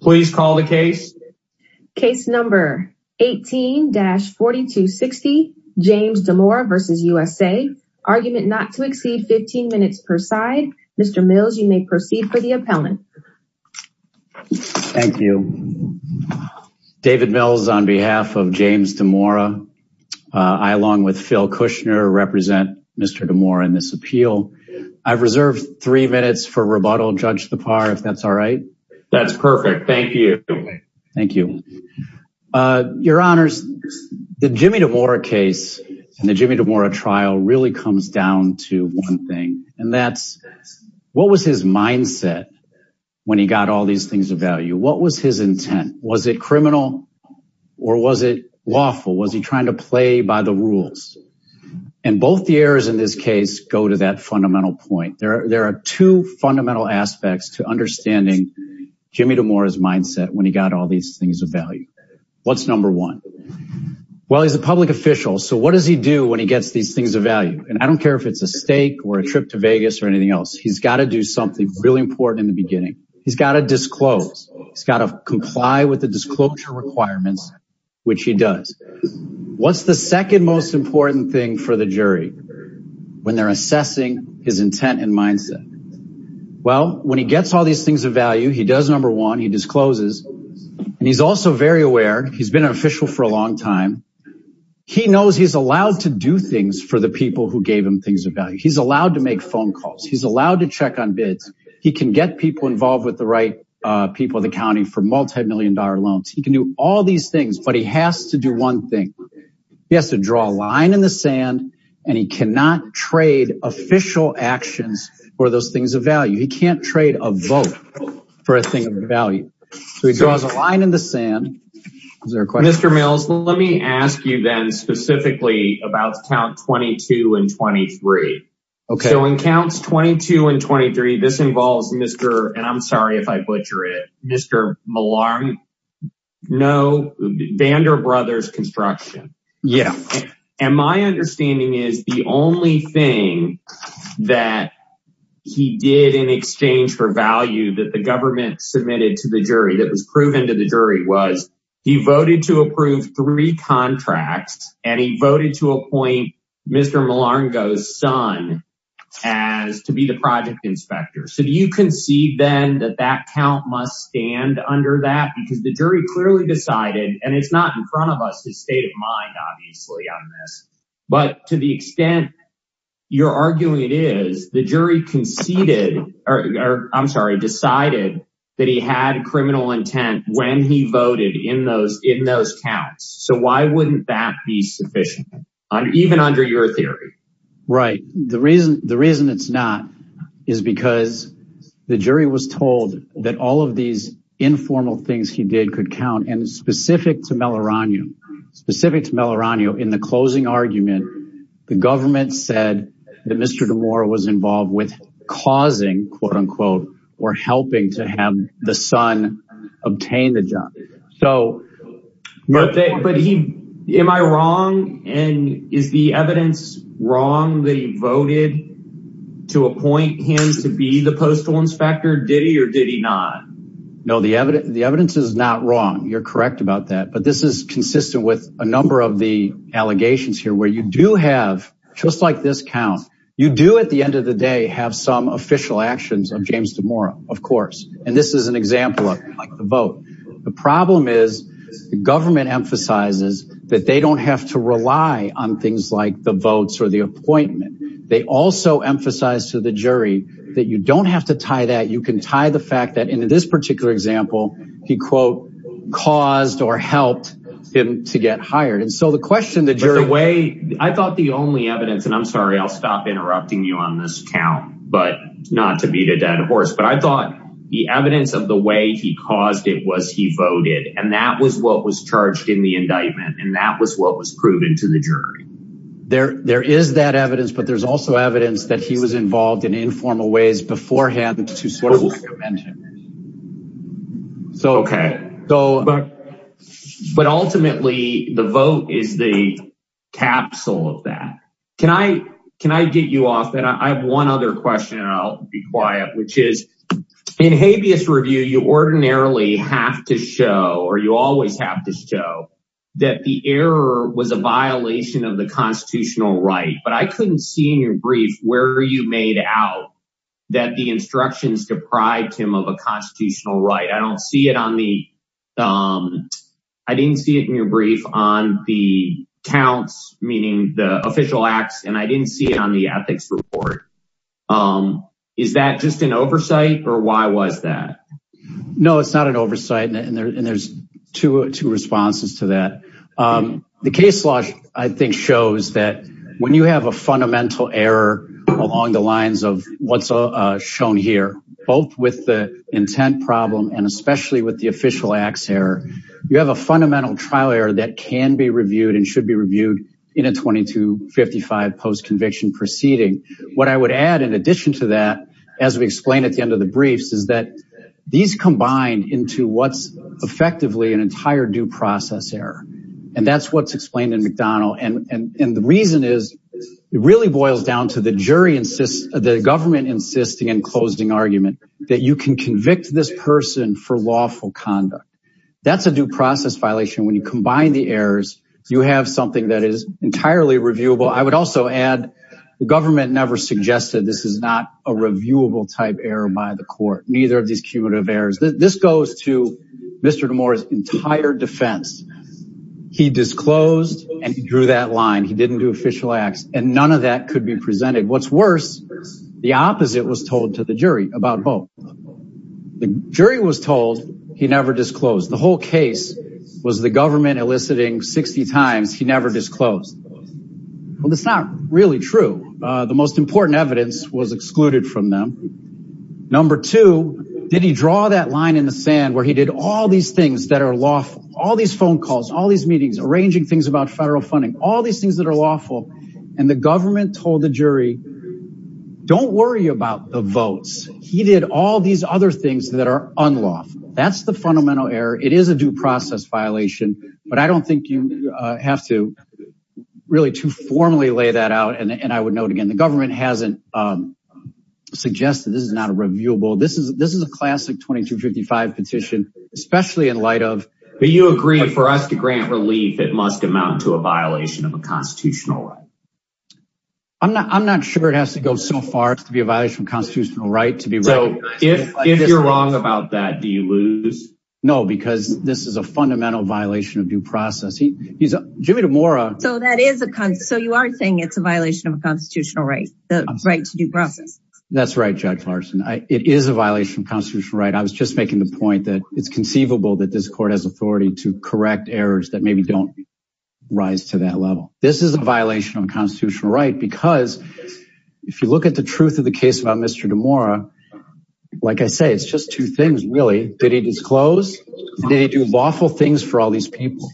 Please call the case. Case number 18-4260, James Dimora v. USA. Argument not to exceed 15 minutes per side. Mr. Mills, you may proceed for the appellant. Thank you. David Mills on behalf of James Dimora, I along with Phil Kushner represent Mr. Dimora in this appeal. I've reserved three minutes for rebuttal, Judge Thapar, if that's all right. That's perfect. Thank you. Thank you. Your Honors, the Jimmy Dimora case and the Jimmy Dimora trial really comes down to one thing and that's what was his mindset when he got all these things of value? What was his intent? Was it criminal or was it lawful? Was he trying to play by the rules? And both the errors in this case go to that fundamental point. There are two fundamental aspects to understanding Jimmy Dimora's mindset when he got all these things of value. What's number one? Well, he's a public official. So what does he do when he gets these things of value? And I don't care if it's a stake or a trip to Vegas or anything else. He's got to do something really important in the beginning. He's got to disclose. He's got to comply with the disclosure requirements, which he does. What's the second most important thing for the jury when they're assessing his intent and mindset? Well, when he gets all these things of value, he does number one, he discloses. And he's also very aware. He's been an official for a long time. He knows he's allowed to do things for the people who gave him things of value. He's allowed to make phone calls. He's allowed to check on bids. He can get people involved with the right people in the county for multimillion dollar loans. He can do all these things, but he has to do one thing. He has to draw a line in the sand, and he cannot trade official actions for those things of value. He can't trade a vote for a thing of value. So he draws a line in the sand. Mr. Mills, let me ask you then specifically about count 22 and 23. So in counts 22 and 23, this involves Mr. and I'm sorry if I butcher it, Mr. Malarm. No, Vander Brothers Construction. And my understanding is the only thing that he did in exchange for value that the government He voted to approve three contracts, and he voted to appoint Mr. Malarngo's son as to be the project inspector. So do you concede then that that count must stand under that? Because the jury clearly decided, and it's not in front of us, his state of mind, obviously, on this. But to the extent you're arguing it is, the jury conceded, or I'm sorry, decided that he had criminal intent when he voted in those counts. So why wouldn't that be sufficient, even under your theory? Right. The reason it's not is because the jury was told that all of these informal things he did could count. And specific to Malarango, in the closing argument, the government said that Mr. Damora was involved with causing, quote unquote, or helping to have the son obtain the job. But am I wrong? And is the evidence wrong that he voted to appoint him to be the postal inspector? Did he or did he not? No, the evidence is not wrong. You're correct about that. But this is consistent with a number of the allegations here where you do have, just like this count, you do at the end of the day have some official actions of James Damora, of course. And this is an example of the vote. The problem is the government emphasizes that they don't have to rely on things like the votes or the appointment. They also emphasize to the jury that you don't have to tie that. You can tie the fact that in this particular example, he, quote, caused or helped him to get hired. And so the question the jury way, I thought the only evidence and I'm sorry, I'll stop interrupting you on this count, but not to beat a dead horse, but I thought the evidence of the way he caused it was he voted and that was what was charged in the indictment. And that was what was proven to the jury. There is that evidence, but there's also evidence that he was involved in informal ways beforehand to sort of prevent him. So, okay. So, but ultimately the vote is the capsule of that. Can I, can I get you off that? I have one other question and I'll be quiet, which is in habeas review, you ordinarily have to show, or you always have to show that the error was a violation of the constitutional right. But I couldn't see in your brief, where are you made out that the instructions deprive him of a constitutional right? I don't see it on the, I didn't see it in your brief on the counts, meaning the official acts. And I didn't see it on the ethics report. Is that just an oversight or why was that? No, it's not an oversight. And there's two responses to that. The case law, I think, shows that when you have a fundamental error along the lines of what's shown here, both with the intent problem and especially with the official acts error, you have a fundamental trial error that can be reviewed and should be reviewed in a 2255 post-conviction proceeding. What I would add in addition to that, as we explained at the end of the briefs, is that these combined into what's effectively an entire due process error. And that's what's happening in McDonnell. And the reason is, it really boils down to the jury insists, the government insisting and closing argument that you can convict this person for lawful conduct. That's a due process violation. When you combine the errors, you have something that is entirely reviewable. I would also add the government never suggested this is not a reviewable type error by the court, neither of these cumulative errors. This goes to Mr. Damore's entire defense. He disclosed and he drew that line. He didn't do official acts and none of that could be presented. What's worse, the opposite was told to the jury about Hope. The jury was told he never disclosed. The whole case was the government eliciting 60 times, he never disclosed. Well, that's not really true. The most important evidence was excluded from them. Number two, did he draw that line in the sand where he did all these things that are lawful, all these phone calls, all these meetings, arranging things about federal funding, all these things that are lawful. And the government told the jury, don't worry about the votes. He did all these other things that are unlawful. That's the fundamental error. It is a due process violation, but I don't think you have really to formally lay that out. And I would note again, the government hasn't suggested this is not a reviewable. This is a classic 2255 petition, especially in light of... But you agree for us to grant relief, it must amount to a violation of a constitutional right. I'm not sure it has to go so far as to be a violation of constitutional right. So if you're wrong about that, do you lose? No, because this is a fundamental violation of due process. Jimmy DeMora... So you are saying it's a violation of a constitutional right, the right to due process. That's right, Judge Larson. It is a violation of constitutional right. I was just making the point that it's conceivable that this court has authority to correct errors that maybe don't rise to that level. This is a violation of constitutional right because if you look at the truth of the case about Mr. DeMora, like I say, it's just two things really. Did he disclose? Did he do lawful things for all these people?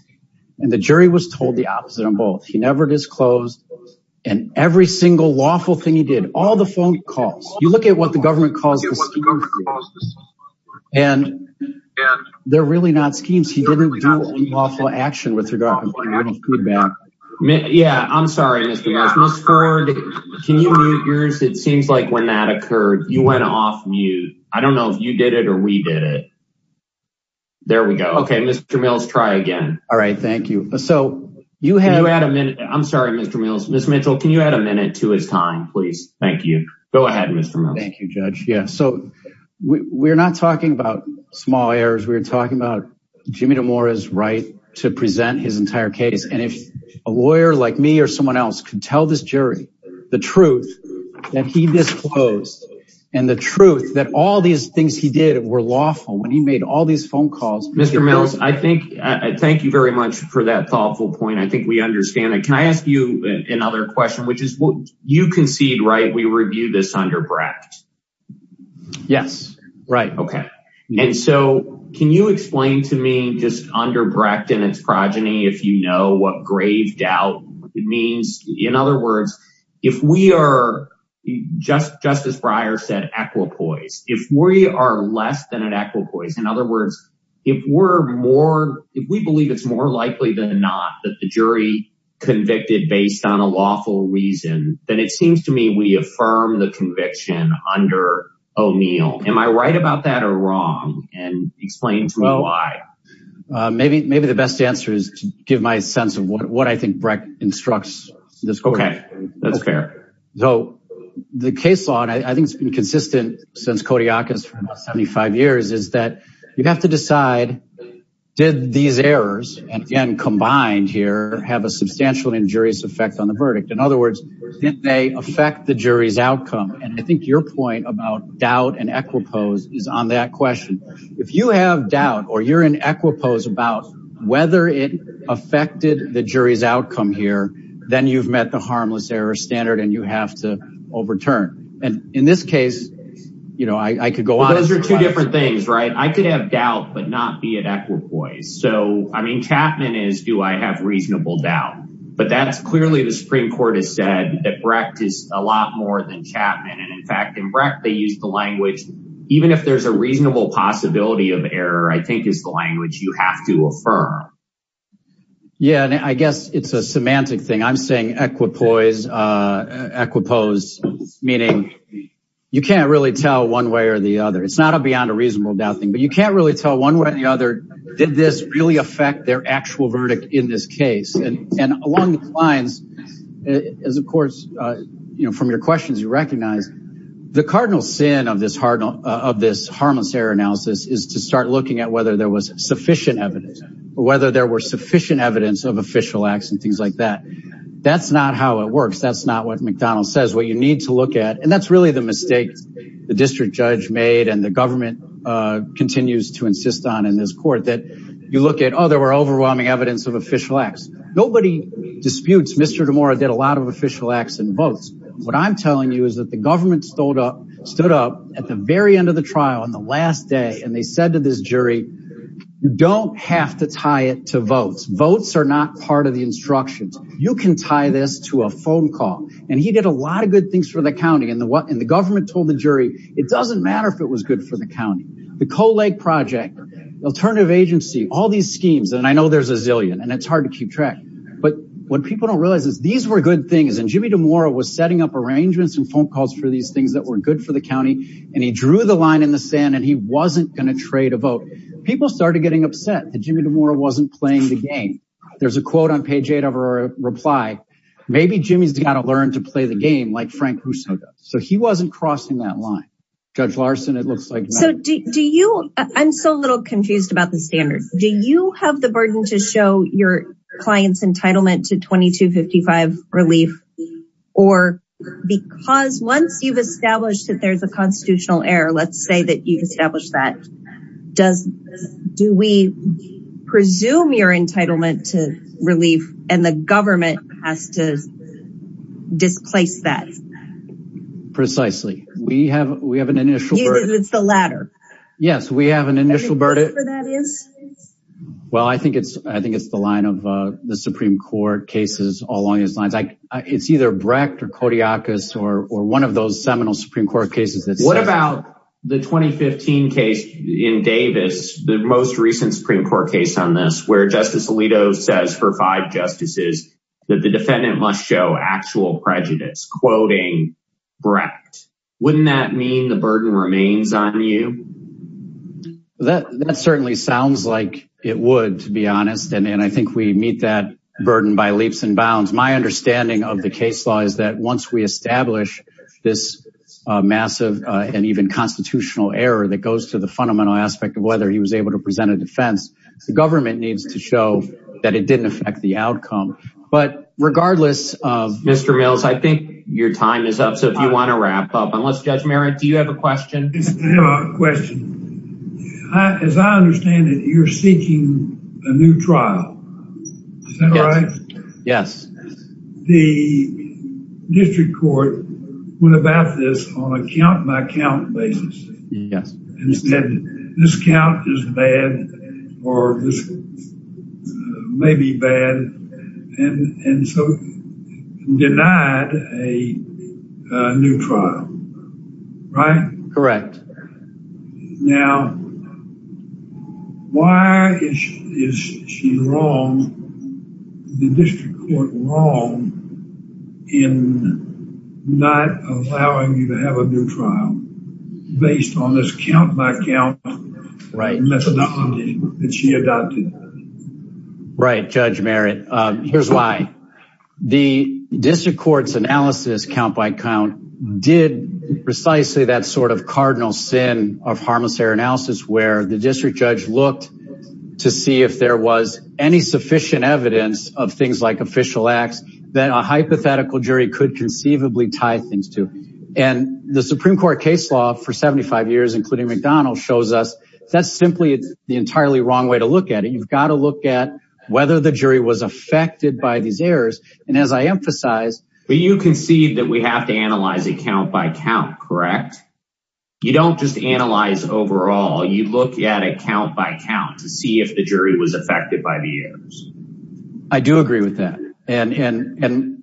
And the jury was told the opposite of both. He never disclosed. And every single lawful thing he did, all the phone calls, you look at what the government calls the schemes. And they're really not schemes. He didn't do any lawful action with regard to any feedback. Yeah, I'm sorry, Mr. Goss. Ms. Ford, can you mute yours? It seems like when that occurred, you went off mute. I don't know if you did it or we did it. There we go. Okay, Mr. Mills, try again. All right. Thank you. So you had a minute. I'm sorry, Mr. Mills. Ms. Mitchell, can you add a minute to his time, please? Thank you. Go ahead, Mr. Mills. Thank you, Judge. Yeah. So we're not talking about small errors. We're talking about Jimmy DeMora's right to present his entire case. And if a lawyer like me or someone else could tell this jury the truth that he disclosed and the truth that all these things he did were lawful when he made all these phone calls. Mr. Mills, I thank you very much for that thoughtful point. I think we understand it. Can I ask you another question, which is you concede, right? We review this under Brecht. Yes. Right. Okay. And so can you explain to me just under Brecht and its progeny, if you know what grave doubt means? In other words, if we are just, just as Breyer said, equipoise, if we are less than an equipoise, in other words, if we're more, if we believe it's more likely than not that the jury convicted based on a lawful reason, then it seems to me we affirm the conviction under O'Neill. Am I right about that or wrong? And explain to me why. Maybe the best answer is to give my sense of what I think Brecht instructs this court. Okay. That's fair. So the case law, and I think it's been consistent since Kodiakos for about 75 years, is that you have to decide did these errors, and again combined here, have a substantial injurious effect on the verdict? In other words, did they affect the jury's outcome? And I think your point about doubt and equipoise is on that question. If you have doubt or you're in equipoise about whether it affected the jury's outcome here, then you've met the harmless error standard and you have to overturn. And in this case, you know, I could go on. Those are two different things, right? I could have doubt, but not be at equipoise. So, I mean, Chapman is, do I have reasonable doubt? But that's clearly the Supreme Court has said that Brecht is a lot more than Chapman. And in fact, in Brecht, they use the language, even if there's a reasonable possibility of error, I think is the language you have to affirm. Yeah, and I guess it's a semantic thing. I'm saying equipoise, equipoise, meaning you can't really tell one way or the other. It's not a beyond a reasonable doubt thing, but you can't really tell one way or the other. Did this really affect their actual verdict in this case? And along these lines, as of course, you know, from your questions, you recognize the cardinal sin of this harmless error analysis is to start looking at whether there was sufficient evidence or whether there were sufficient evidence of official acts and things like that. That's not how it works. That's not what McDonnell says, what you need to look at. And that's really the mistake the district judge made and the government continues to do. Nobody disputes Mr. DeMora did a lot of official acts and votes. What I'm telling you is that the government stood up at the very end of the trial on the last day and they said to this jury, you don't have to tie it to votes. Votes are not part of the instructions. You can tie this to a phone call. And he did a lot of good things for the county. And the government told the jury, it doesn't matter if it was good for the county. The Coal Lake Project, the alternative agency, all these schemes, and I know there's a zillion and it's hard to keep track. But what people don't realize is these were good things. And Jimmy DeMora was setting up arrangements and phone calls for these things that were good for the county. And he drew the line in the sand and he wasn't going to trade a vote. People started getting upset that Jimmy DeMora wasn't playing the game. There's a quote on page eight of our reply. Maybe Jimmy's got to learn to play the game like Frank Russo does. So he wasn't crossing that line. Judge Larson, it looks like. So do you, I'm so little confused about the standards. Do you have the burden to show your client's entitlement to 2255 relief? Or because once you've established that there's a constitutional error, let's say that you've established that. Do we presume your entitlement to relief and the government has to displace that? Precisely. We have, we have an initial burden. It's the latter. Yes, we have an initial burden. Well, I think it's, I think it's the line of the Supreme Court cases all along these lines. It's either Brecht or Kodiakos or one of those seminal Supreme Court cases. What about the 2015 case in Davis, the most recent Supreme Court case on this where Justice Bryant must show actual prejudice, quoting Brecht. Wouldn't that mean the burden remains on you? That certainly sounds like it would, to be honest. And I think we meet that burden by leaps and bounds. My understanding of the case law is that once we establish this massive and even constitutional error that goes to the fundamental aspect of whether he was able to present a defense, the government needs to show that it didn't affect the outcome. But regardless of Mr. Mills, I think your time is up. So if you want to wrap up, unless Judge Merritt, do you have a question? I have a question. As I understand it, you're seeking a new trial. Is that right? Yes. The district court went about this on a count by count basis. Yes. And said this count is bad or this may be bad. And so denied a new trial. Right? Correct. Now, why is she wrong, the district court wrong, in not allowing you to have a new trial based on this count by count methodology that she adopted? Right, Judge Merritt. Here's why. The district court's analysis, count by count, did precisely that sort of cardinal sin of harmless error analysis where the district judge looked to see if there was any sufficient evidence of things like official acts that a hypothetical jury could conceivably tie things to. And the Supreme Court case law for 75 years, including McDonald's, shows us that's simply the entirely wrong way to look at it. You've got to look at whether the jury was affected by these errors. And as I emphasize... We have to analyze it count by count, correct? You don't just analyze overall. You look at it count by count to see if the jury was affected by the errors. I do agree with that. And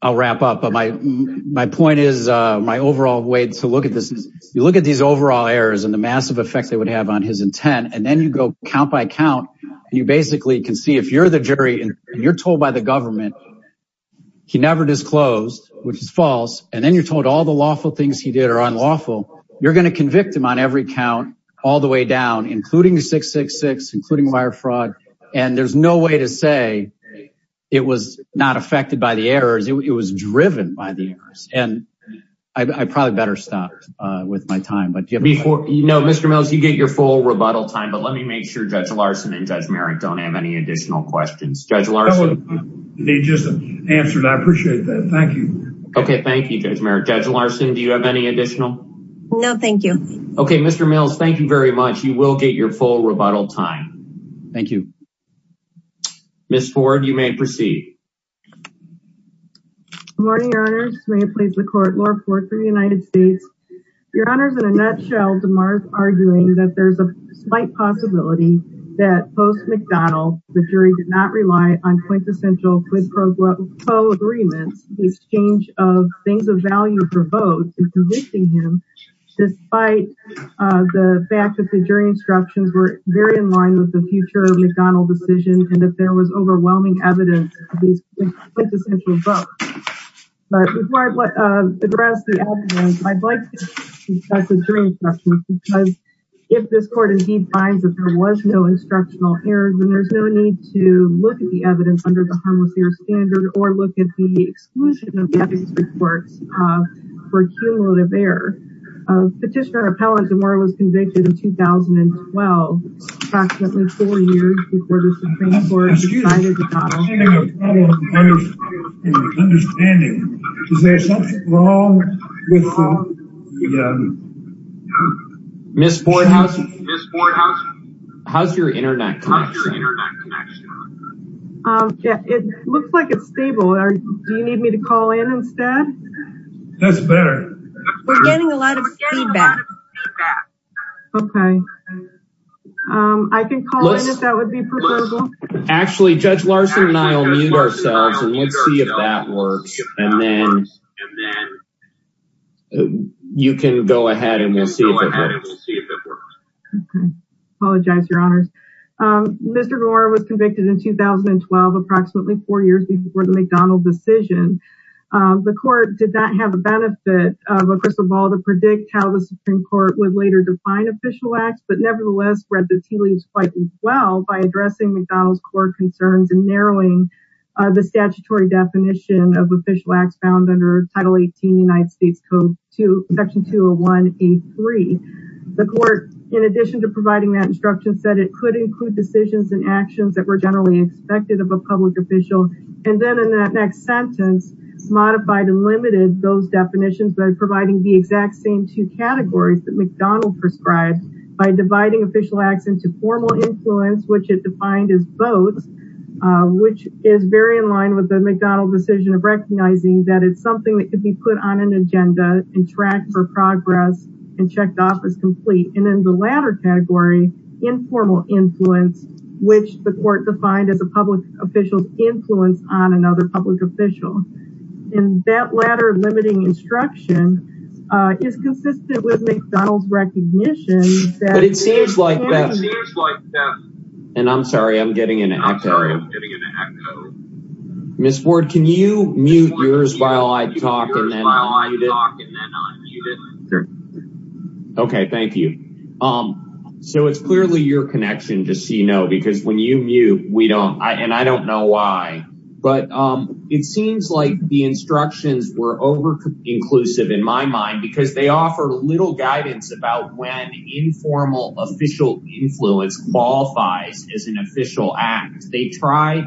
I'll wrap up. But my point is, my overall way to look at this is, you look at these overall errors and the massive effects they would have on his intent, and then you go count by count, and you basically can see if you're the jury and you're told by the government he never disclosed, which is false, and then you're told all the lawful things he did are unlawful, you're going to convict him on every count all the way down, including 666, including wire fraud. And there's no way to say it was not affected by the errors. It was driven by the errors. And I probably better stop with my time. No, Mr. Mills, you get your full rebuttal time. But let me make sure Judge Larson and they just answered. I appreciate that. Thank you. Okay, thank you, Judge Larson. Do you have any additional? No, thank you. Okay, Mr. Mills, thank you very much. You will get your full rebuttal time. Thank you. Ms. Ford, you may proceed. Good morning, Your Honors. May it please the court, Laura Ford for the United States. Your Honors, in a nutshell, DeMar's arguing that there's a slight possibility that post-McDonald, while the jury did not rely on quintessential quid pro quo agreements, the exchange of things of value for both in convicting him, despite the fact that the jury instructions were very in line with the future of the McDonald decision and that there was overwhelming evidence of these quintessential votes. But before I address the evidence, I'd like to discuss the jury instructions because if this court indeed finds that there was no instructional errors, then there's no need to look at the evidence under the harmless error standard or look at the exclusion of evidence reports for cumulative error. Petitioner or appellant DeMar was convicted in 2012, approximately four years before the Supreme Court decided to... Excuse me, I'm having a problem understanding. Is there something wrong with the... Ms. Boardhouse, how's your internet connection? It looks like it's stable. Do you need me to call in instead? That's better. We're getting a lot of feedback. Okay. I can call in if that would be preferable. Actually, Judge Larson and I will mute ourselves and we'll see if that works. And then you can go ahead and we'll see if it works. Okay. Apologize, Your Honors. Mr. DeMar was convicted in 2012, approximately four years before the McDonald decision. The court did not have a benefit of a crystal ball to predict how the Supreme Court would later define official acts, but nevertheless read the tea leaves quite well by addressing McDonald's court concerns and narrowing the statutory definition of official acts found under Title 18, United States Code Section 201A3. The court, in addition to providing that instruction, said it could include decisions and actions that were generally expected of a public official. And then in that next sentence, modified and limited those definitions by providing the exact same two categories that McDonald prescribed by dividing official acts into formal influence, which it defined as both, which is very in line with the McDonald decision of recognizing that it's something that could be put on an agenda and tracked for progress and checked off as complete. And then the latter category, informal influence, which the court defined as a public official's influence on another public official. And that latter limiting instruction is consistent with McDonald's recognition that- And I'm sorry, I'm getting an echo. Ms. Ford, can you mute yours while I talk and then unmute it? Okay, thank you. So it's clearly your connection to see no, because when you mute, we don't, and I don't know why, but it seems like the instructions were over inclusive in my mind because they offer little guidance about when informal official influence qualifies as an official act. They try,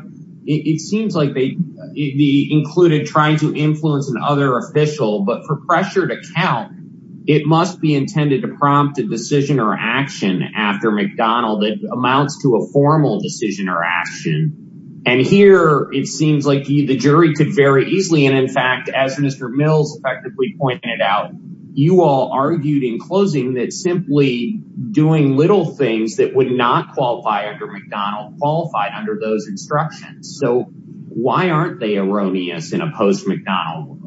it seems like they included trying to influence another official, but for pressure to count, it must be intended to prompt a decision or action after McDonald that amounts to a formal decision or action. And here it seems like the jury could very easily, and in fact, as Mr. Mills effectively pointed out, you all argued in closing that simply doing little things that would not qualify under McDonald qualified under those instructions. So why aren't they erroneous in a post-McDonald world?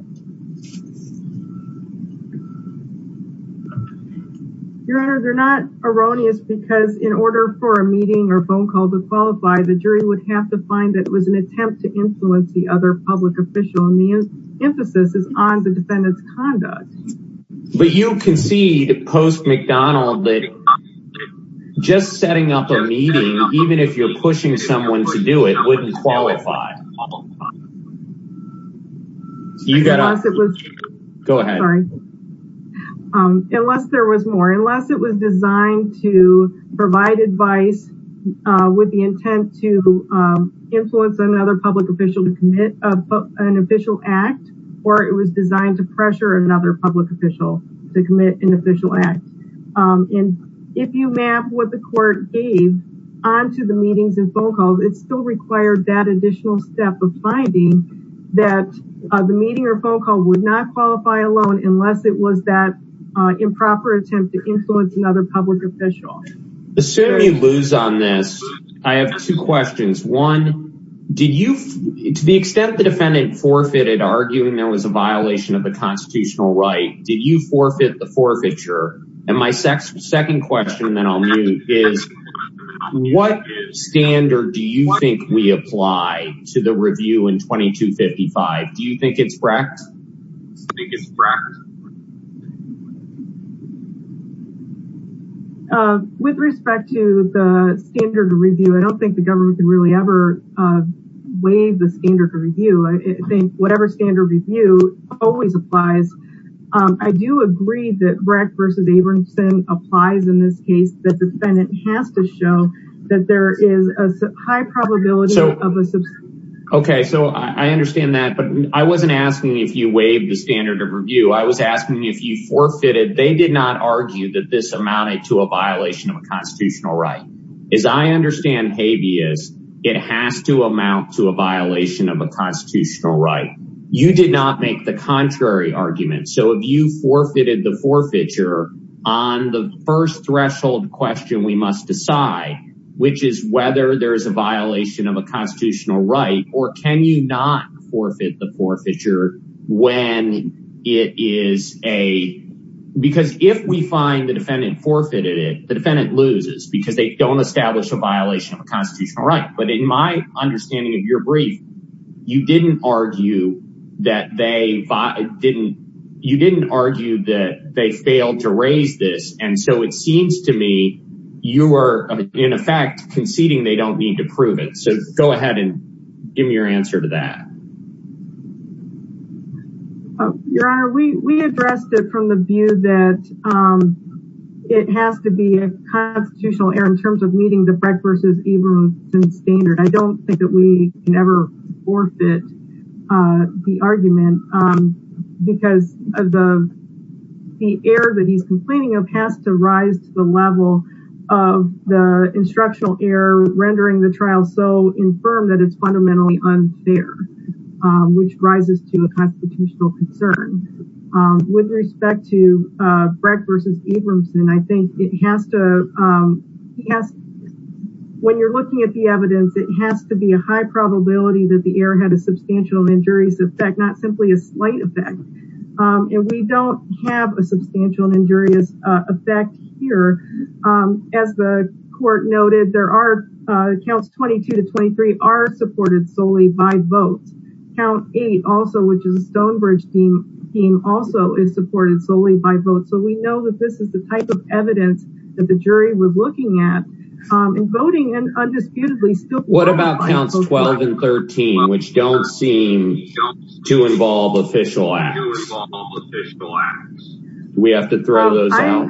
Your Honor, they're not erroneous because in order for a meeting or phone call to qualify, the jury would have to find that it was an attempt to influence the other public official. And the emphasis is on the defendant's conduct. But you concede post-McDonald that just setting up a meeting, even if you're pushing someone to do it, wouldn't qualify. Unless it was designed to provide advice with the intent to influence another public official to commit an official act, or it was designed to pressure another public official to commit an official act. And if you map what the court gave onto the meetings and phone calls, it still required that additional step of finding that the meeting or phone call would not qualify alone unless it was that improper attempt to influence another public official. Assuming you lose on this, I have two questions. One, to the extent the defendant forfeited arguing there was a violation of the constitutional right, did you forfeit the forfeiture? And my second question, then I'll move, is what standard do you think we apply to the review in 2255? Do you think it's wrecked? With respect to the standard of review, I don't think the government can really ever waive the standard of review. I think whatever standard of review always applies. I do agree that wrecked versus Abramson applies in this case. The defendant has to show that there is a high probability of a subsistence. Okay, so I understand that. But I wasn't asking if you waived the standard of review. I was asking if you forfeited. They did not argue that this amounted to a violation of a constitutional right. As I understand habeas, it has to amount to a violation of a constitutional right. You did not make the contrary argument. So if you forfeited the forfeiture on the first threshold question we must decide, which is whether there is a violation of a constitutional right, or can you not forfeit the forfeiture when it is a – because if we find the defendant forfeited it, the defendant loses because they don't establish a violation of a constitutional right. But in my understanding of your brief, you didn't argue that they failed to raise this. And so it seems to me you are, in effect, conceding they don't need to prove it. So go ahead and give me your answer to that. Your Honor, we addressed it from the view that it has to be a constitutional error in terms of meeting the Brecht v. Ibramson standard. I don't think that we can ever forfeit the argument because the error that he's complaining of has to rise to the level of the instructional error rendering the trial so infirm that it's fundamentally unfair, which rises to a constitutional concern. With respect to Brecht v. Ibramson, I think it has to – when you're looking at the evidence, it has to be a high probability that the error had a substantial injurious effect, not simply a slight effect. And we don't have a substantial injurious effect here. As the court noted, there are – counts 22 to 23 are supported solely by votes. Count 8 also, which is the Stonebridge team, also is supported solely by votes. So we know that this is the type of evidence that the jury was looking at. And voting undisputedly still – What about counts 12 and 13, which don't seem to involve official acts? They do involve official acts. Do we have to throw those out?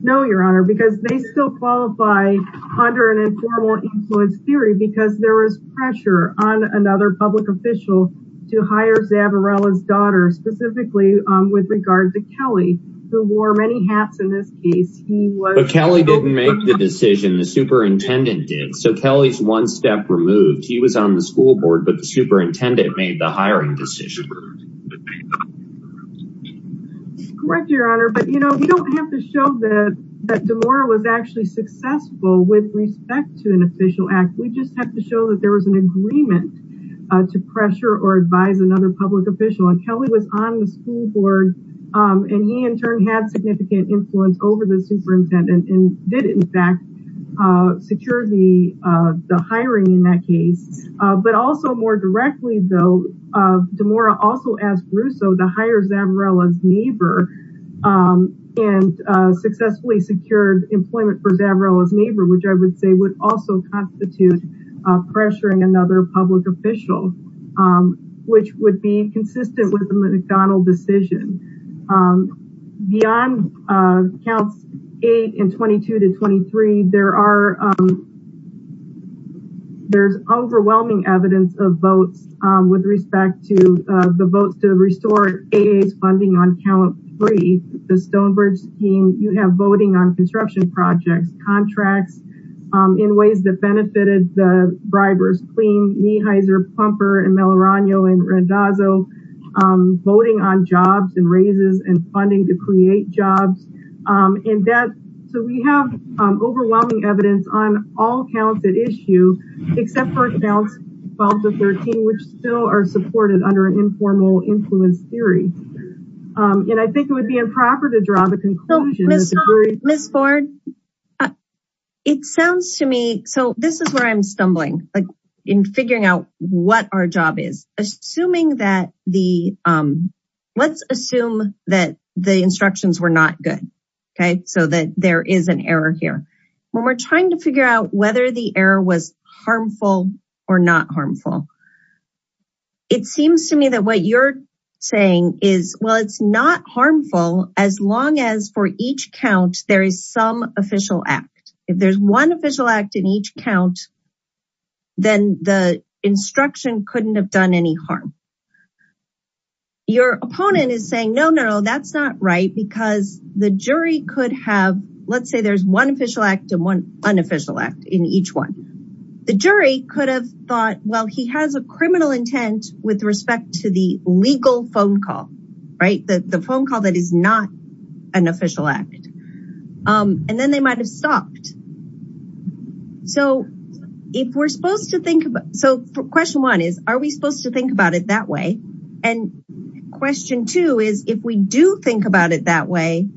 No, Your Honor, because they still qualify under an informal influence theory because there is pressure on another public official to hire Zavarella's daughter, specifically with regard to Kelly, who wore many hats in this case. But Kelly didn't make the decision. The superintendent did. So Kelly's one step removed. He was on the school board, but the superintendent made the hiring decision. Correct, Your Honor. But, you know, we don't have to show that DeMora was actually successful with respect to an official act. We just have to show that there was an agreement to pressure or advise another public official. And Kelly was on the school board, and he in turn had significant influence over the superintendent and did, in fact, secure the hiring in that case. But also more directly, though, DeMora also asked Russo to hire Zavarella's neighbor which I would say would also constitute pressuring another public official, which would be consistent with the McDonald decision. Beyond counts 8 and 22 to 23, there's overwhelming evidence of votes with respect to the votes to restore AA's funding on count three. The Stonebridge team, you have voting on construction projects, contracts in ways that benefited the bribers, Clean, Meeheiser, Plumper, and Melarano and Randazzo, voting on jobs and raises and funding to create jobs. So we have overwhelming evidence on all counts at issue, except for counts 12 to 13, which still are supported under an informal influence theory. And I think it would be improper to draw the conclusion. Ms. Ford, it sounds to me, so this is where I'm stumbling in figuring out what our job is. Assuming that the, let's assume that the instructions were not good. Okay, so that there is an error here. When we're trying to figure out whether the error was harmful or not harmful, it seems to me that what you're saying is, well, it's not harmful as long as for each count, there is some official act. If there's one official act in each count, then the instruction couldn't have done any harm. Your opponent is saying, no, no, no, that's not right because the jury could have, let's say there's one official act and one unofficial act in each one. The jury could have thought, well, he has a criminal intent with respect to the legal phone call, right? The phone call that is not an official act. And then they might've stopped. So if we're supposed to think about, so question one is, are we supposed to think about it that way? And question two is, if we do think about it that way,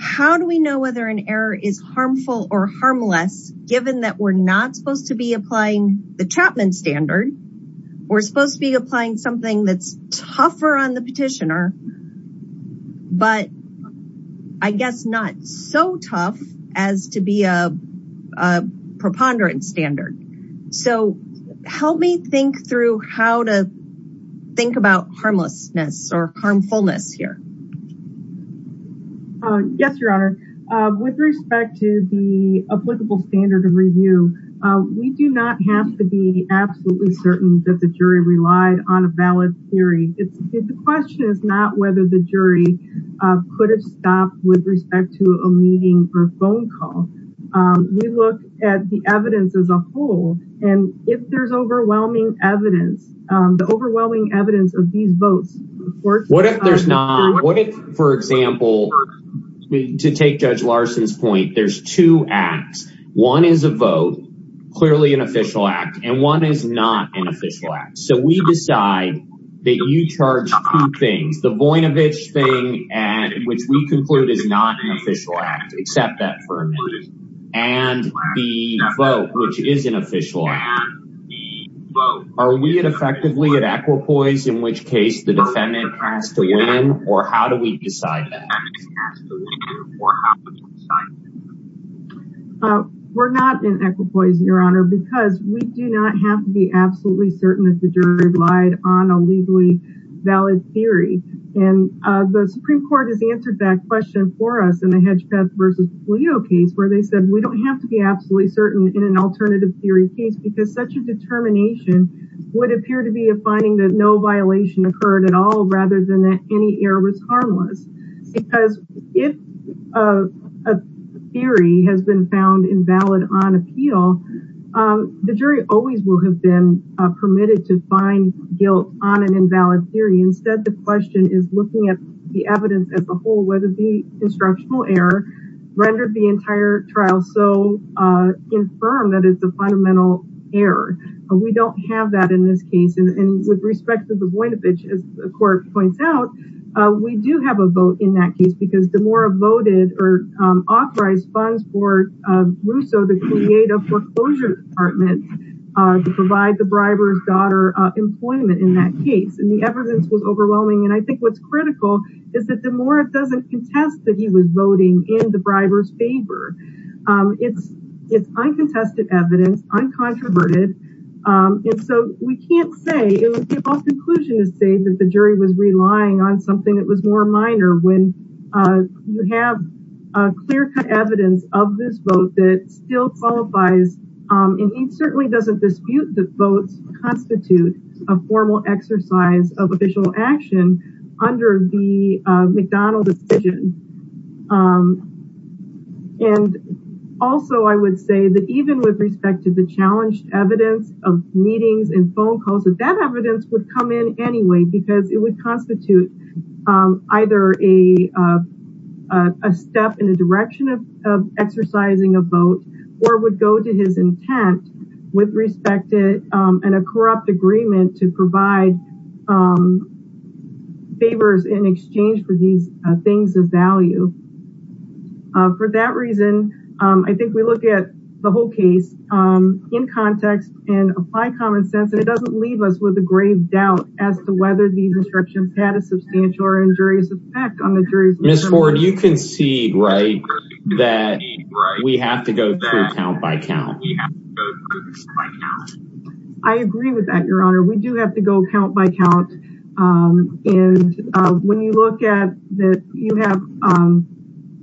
how do we know whether an error is harmful or harmless, given that we're not supposed to be applying the Chapman standard, we're supposed to be applying something that's tougher on the petitioner, but I guess not so tough as to be a preponderance standard. So help me think through how to think about harmlessness or harmfulness here. Yes, Your Honor. With respect to the applicable standard of review, we do not have to be absolutely certain that the jury relied on a valid theory. The question is not whether the jury could have stopped with respect to a meeting or phone call. We look at the evidence as a whole. And if there's overwhelming evidence, the overwhelming evidence of these votes. What if there's not? What if, for example, to take Judge Larson's point, there's two acts. One is a vote, clearly an official act, and one is not an official act. So we decide that you charge two things. The Voinovich thing, which we conclude is not an official act. Accept that for a minute. And the vote, which is an official act. Are we effectively at equipoise, in which case the defendant has to win? Or how do we decide that? We're not in equipoise, Your Honor, because we do not have to be absolutely certain that the jury relied on a legally valid theory. And the Supreme Court has answered that question for us in the Hedgepeth v. Polio case, where they said we don't have to be absolutely certain in an alternative theory case, because such a determination would appear to be a finding that no violation occurred at all, rather than that any error was harmless. Because if a theory has been found invalid on appeal, the jury always will have been permitted to find guilt on an invalid theory. Instead, the question is looking at the evidence as a whole, whether the instructional error rendered the entire trial so infirm that it's a fundamental error. We don't have that in this case. And with respect to the Voinovich, as the court points out, we do have a vote in that case, because DeMora voted or authorized funds for Russo to create a foreclosure department to provide the briber's daughter employment in that case. And the evidence was overwhelming. And I think what's critical is that DeMora doesn't contest that he was voting in the briber's favor. It's uncontested evidence, uncontroverted. And so we can't say, it would be off-conclusion to say that the jury was relying on something that was more minor when you have clear-cut evidence of this vote that still qualifies. And he certainly doesn't dispute that votes constitute a formal exercise of official action under the McDonald decision. And also, I would say that even with respect to the challenged evidence of meetings and phone calls, that that evidence would come in anyway, because it would constitute either a step in the direction of exercising a vote, or would go to his intent with respect to a corrupt agreement to provide favors in exchange for these things of value. For that reason, I think we look at the whole case in context and apply common sense, and it doesn't leave us with a grave doubt as to whether the interruption had a substantial or injurious effect on the jury. Ms. Ford, you concede, right, that we have to go through count by count. We have to go through count by count. I agree with that, Your Honor. We do have to go count by count. And when you look at that, you have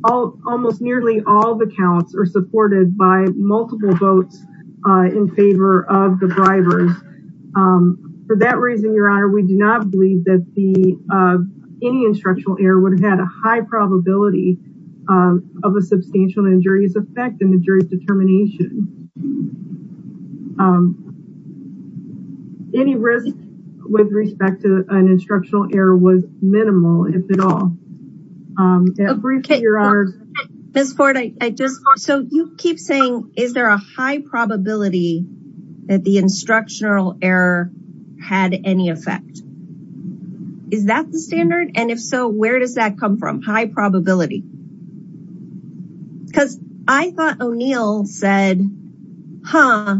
almost nearly all the counts are supported by multiple votes in favor of the bribers. For that reason, Your Honor, we do not believe that any instructional error would have had a high probability of a substantial injurious effect in the jury's determination. Any risk with respect to an instructional error was minimal, if at all. Ms. Ford, you keep saying, is there a high probability that the instructional error had any effect? Is that the standard? And if so, where does that come from, high probability? Because I thought O'Neill said, huh,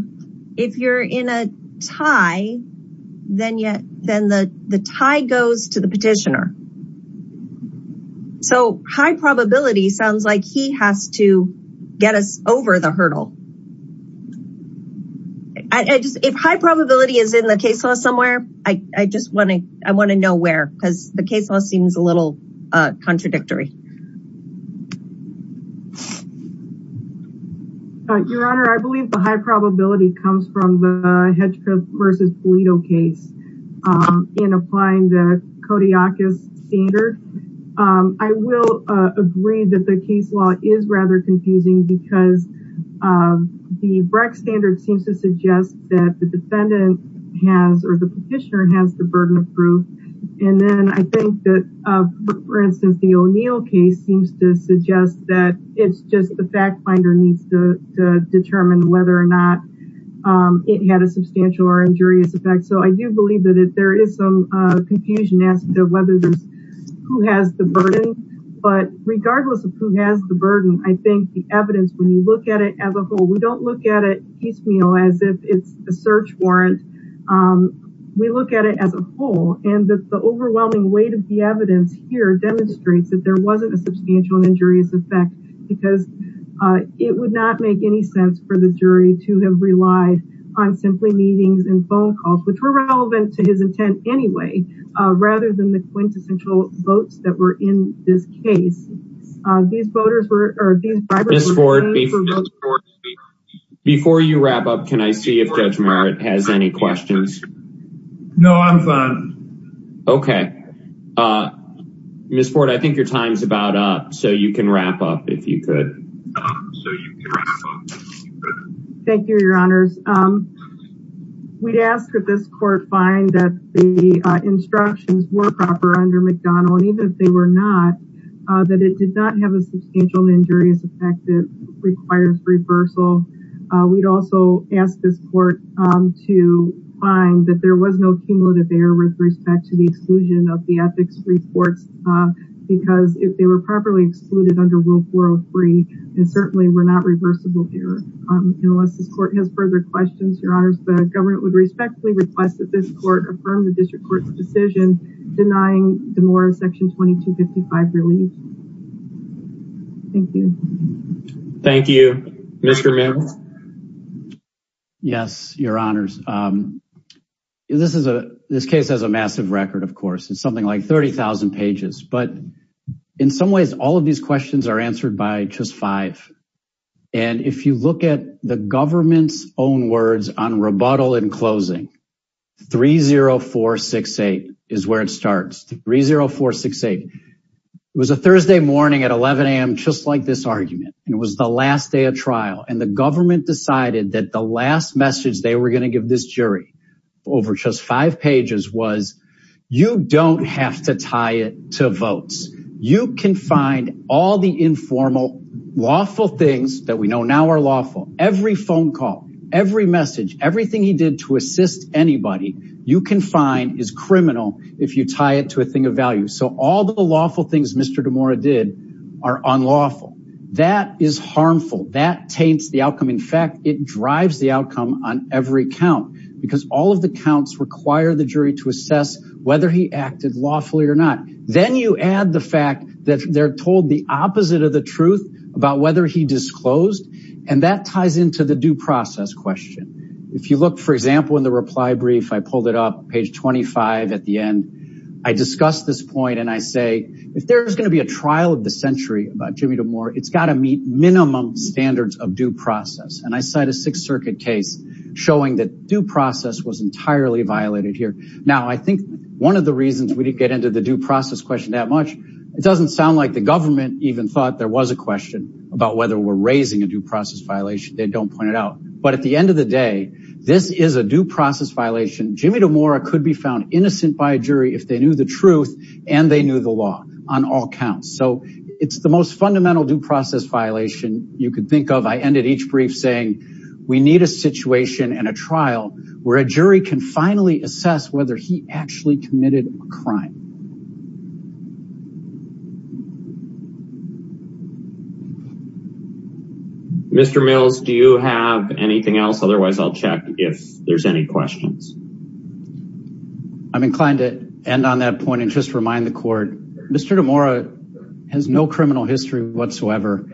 if you're in a tie, then the tie goes to the petitioner. So high probability sounds like he has to get us over the hurdle. If high probability is in the case law somewhere, I just want to know where, because the case law seems a little contradictory. Your Honor, I believe the high probability comes from the Hedrick versus Pulido case in applying the Kodiakus standard. I will agree that the case law is rather confusing because the Breck standard seems to suggest that the defendant has or the petitioner has the burden of proof. And then I think that, for instance, the O'Neill case seems to suggest that it's just the fact finder needs to determine whether or not it had a substantial or injurious effect. So I do believe that there is some confusion as to whether who has the burden. But regardless of who has the burden, I think the evidence, when you look at it as a whole, we don't look at it piecemeal as if it's a search warrant. We look at it as a whole and the overwhelming weight of the evidence here demonstrates that there wasn't a substantial and injurious effect because it would not make any sense for the jury to have relied on simply meetings and phone calls, which were relevant to his intent anyway, rather than the quintessential votes that were in this case. Before you wrap up, can I see if Judge Merritt has any questions? No, I'm fine. Okay. Ms. Ford, I think your time's about up, so you can wrap up if you could. Thank you, Your Honors. We'd ask that this court find that the instructions were proper under McDonnell, and even if they were not, that it did not have a substantial injurious effect that requires reversal. We'd also ask this court to find that there was no cumulative error with respect to the exclusion of the ethics reports, because if they were properly excluded under Rule 403, they certainly were not reversible errors. Unless this court has further questions, Your Honors, the government would respectfully request that this court affirm the district court's decision denying the more of Section 2255 relief. Thank you. Thank you. Mr. Mills? Yes, Your Honors. This case has a massive record, of course. It's something like 30,000 pages, but in some ways, all of these questions are answered by just five. And if you look at the government's own words on rebuttal and closing, 30468 is where it starts. 30468. It was a Thursday morning at 11 a.m., just like this argument, and it was the last day of trial, and the government decided that the last message they were going to give this jury over just five pages was, you don't have to tie it to votes. You can find all the informal, lawful things that we know now are lawful. Every phone call, every message, everything he did to assist anybody, you can find is criminal if you tie it to a thing of value. So all the lawful things Mr. DeMora did are unlawful. That is harmful. That taints the outcome. In fact, it drives the outcome on every count, because all of the counts require the jury to assess whether he acted lawfully or not. Then you add the fact that they're told the opposite of the truth about whether he disclosed, and that ties into the due process question. If you look, for example, in the reply brief, I pulled it up, page 25 at the end. I discussed this point, and I say, if there's going to be a trial of the century about Jimmy DeMora, it's got to meet minimum standards of due process. And I cite a Sixth Circuit case showing that due process was entirely violated here. Now, I think one of the reasons we didn't get into the due process question that much, it doesn't sound like the government even thought there was a question about whether we're raising a due process violation. They don't point it out. But at the end of the day, this is a due process violation. Jimmy DeMora could be found innocent by a jury if they knew the truth and they knew the law on all counts. So it's the most fundamental due process violation you could think of. I ended each brief saying we need a situation and a trial where a jury can finally assess whether he actually committed a crime. Mr. Mills, do you have anything else? Otherwise, I'll check if there's any questions. I'm inclined to end on that point and just remind the court. Mr. DeMora has no criminal history whatsoever.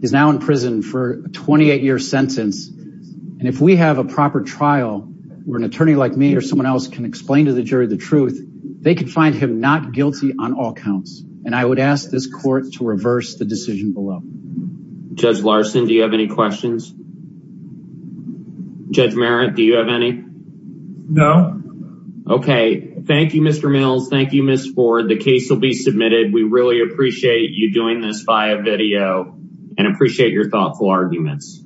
He's now in prison for a 28-year sentence. And if we have a proper trial where an attorney like me or someone else can explain to the jury the truth, they could find him not guilty on all counts. And I would ask this court to reverse the decision below. Judge Larson, do you have any questions? Judge Merritt, do you have any? No. Okay. Thank you, Mr. Mills. Thank you, Ms. Ford. The case will be submitted. We really appreciate you doing this via video and appreciate your thoughtful arguments.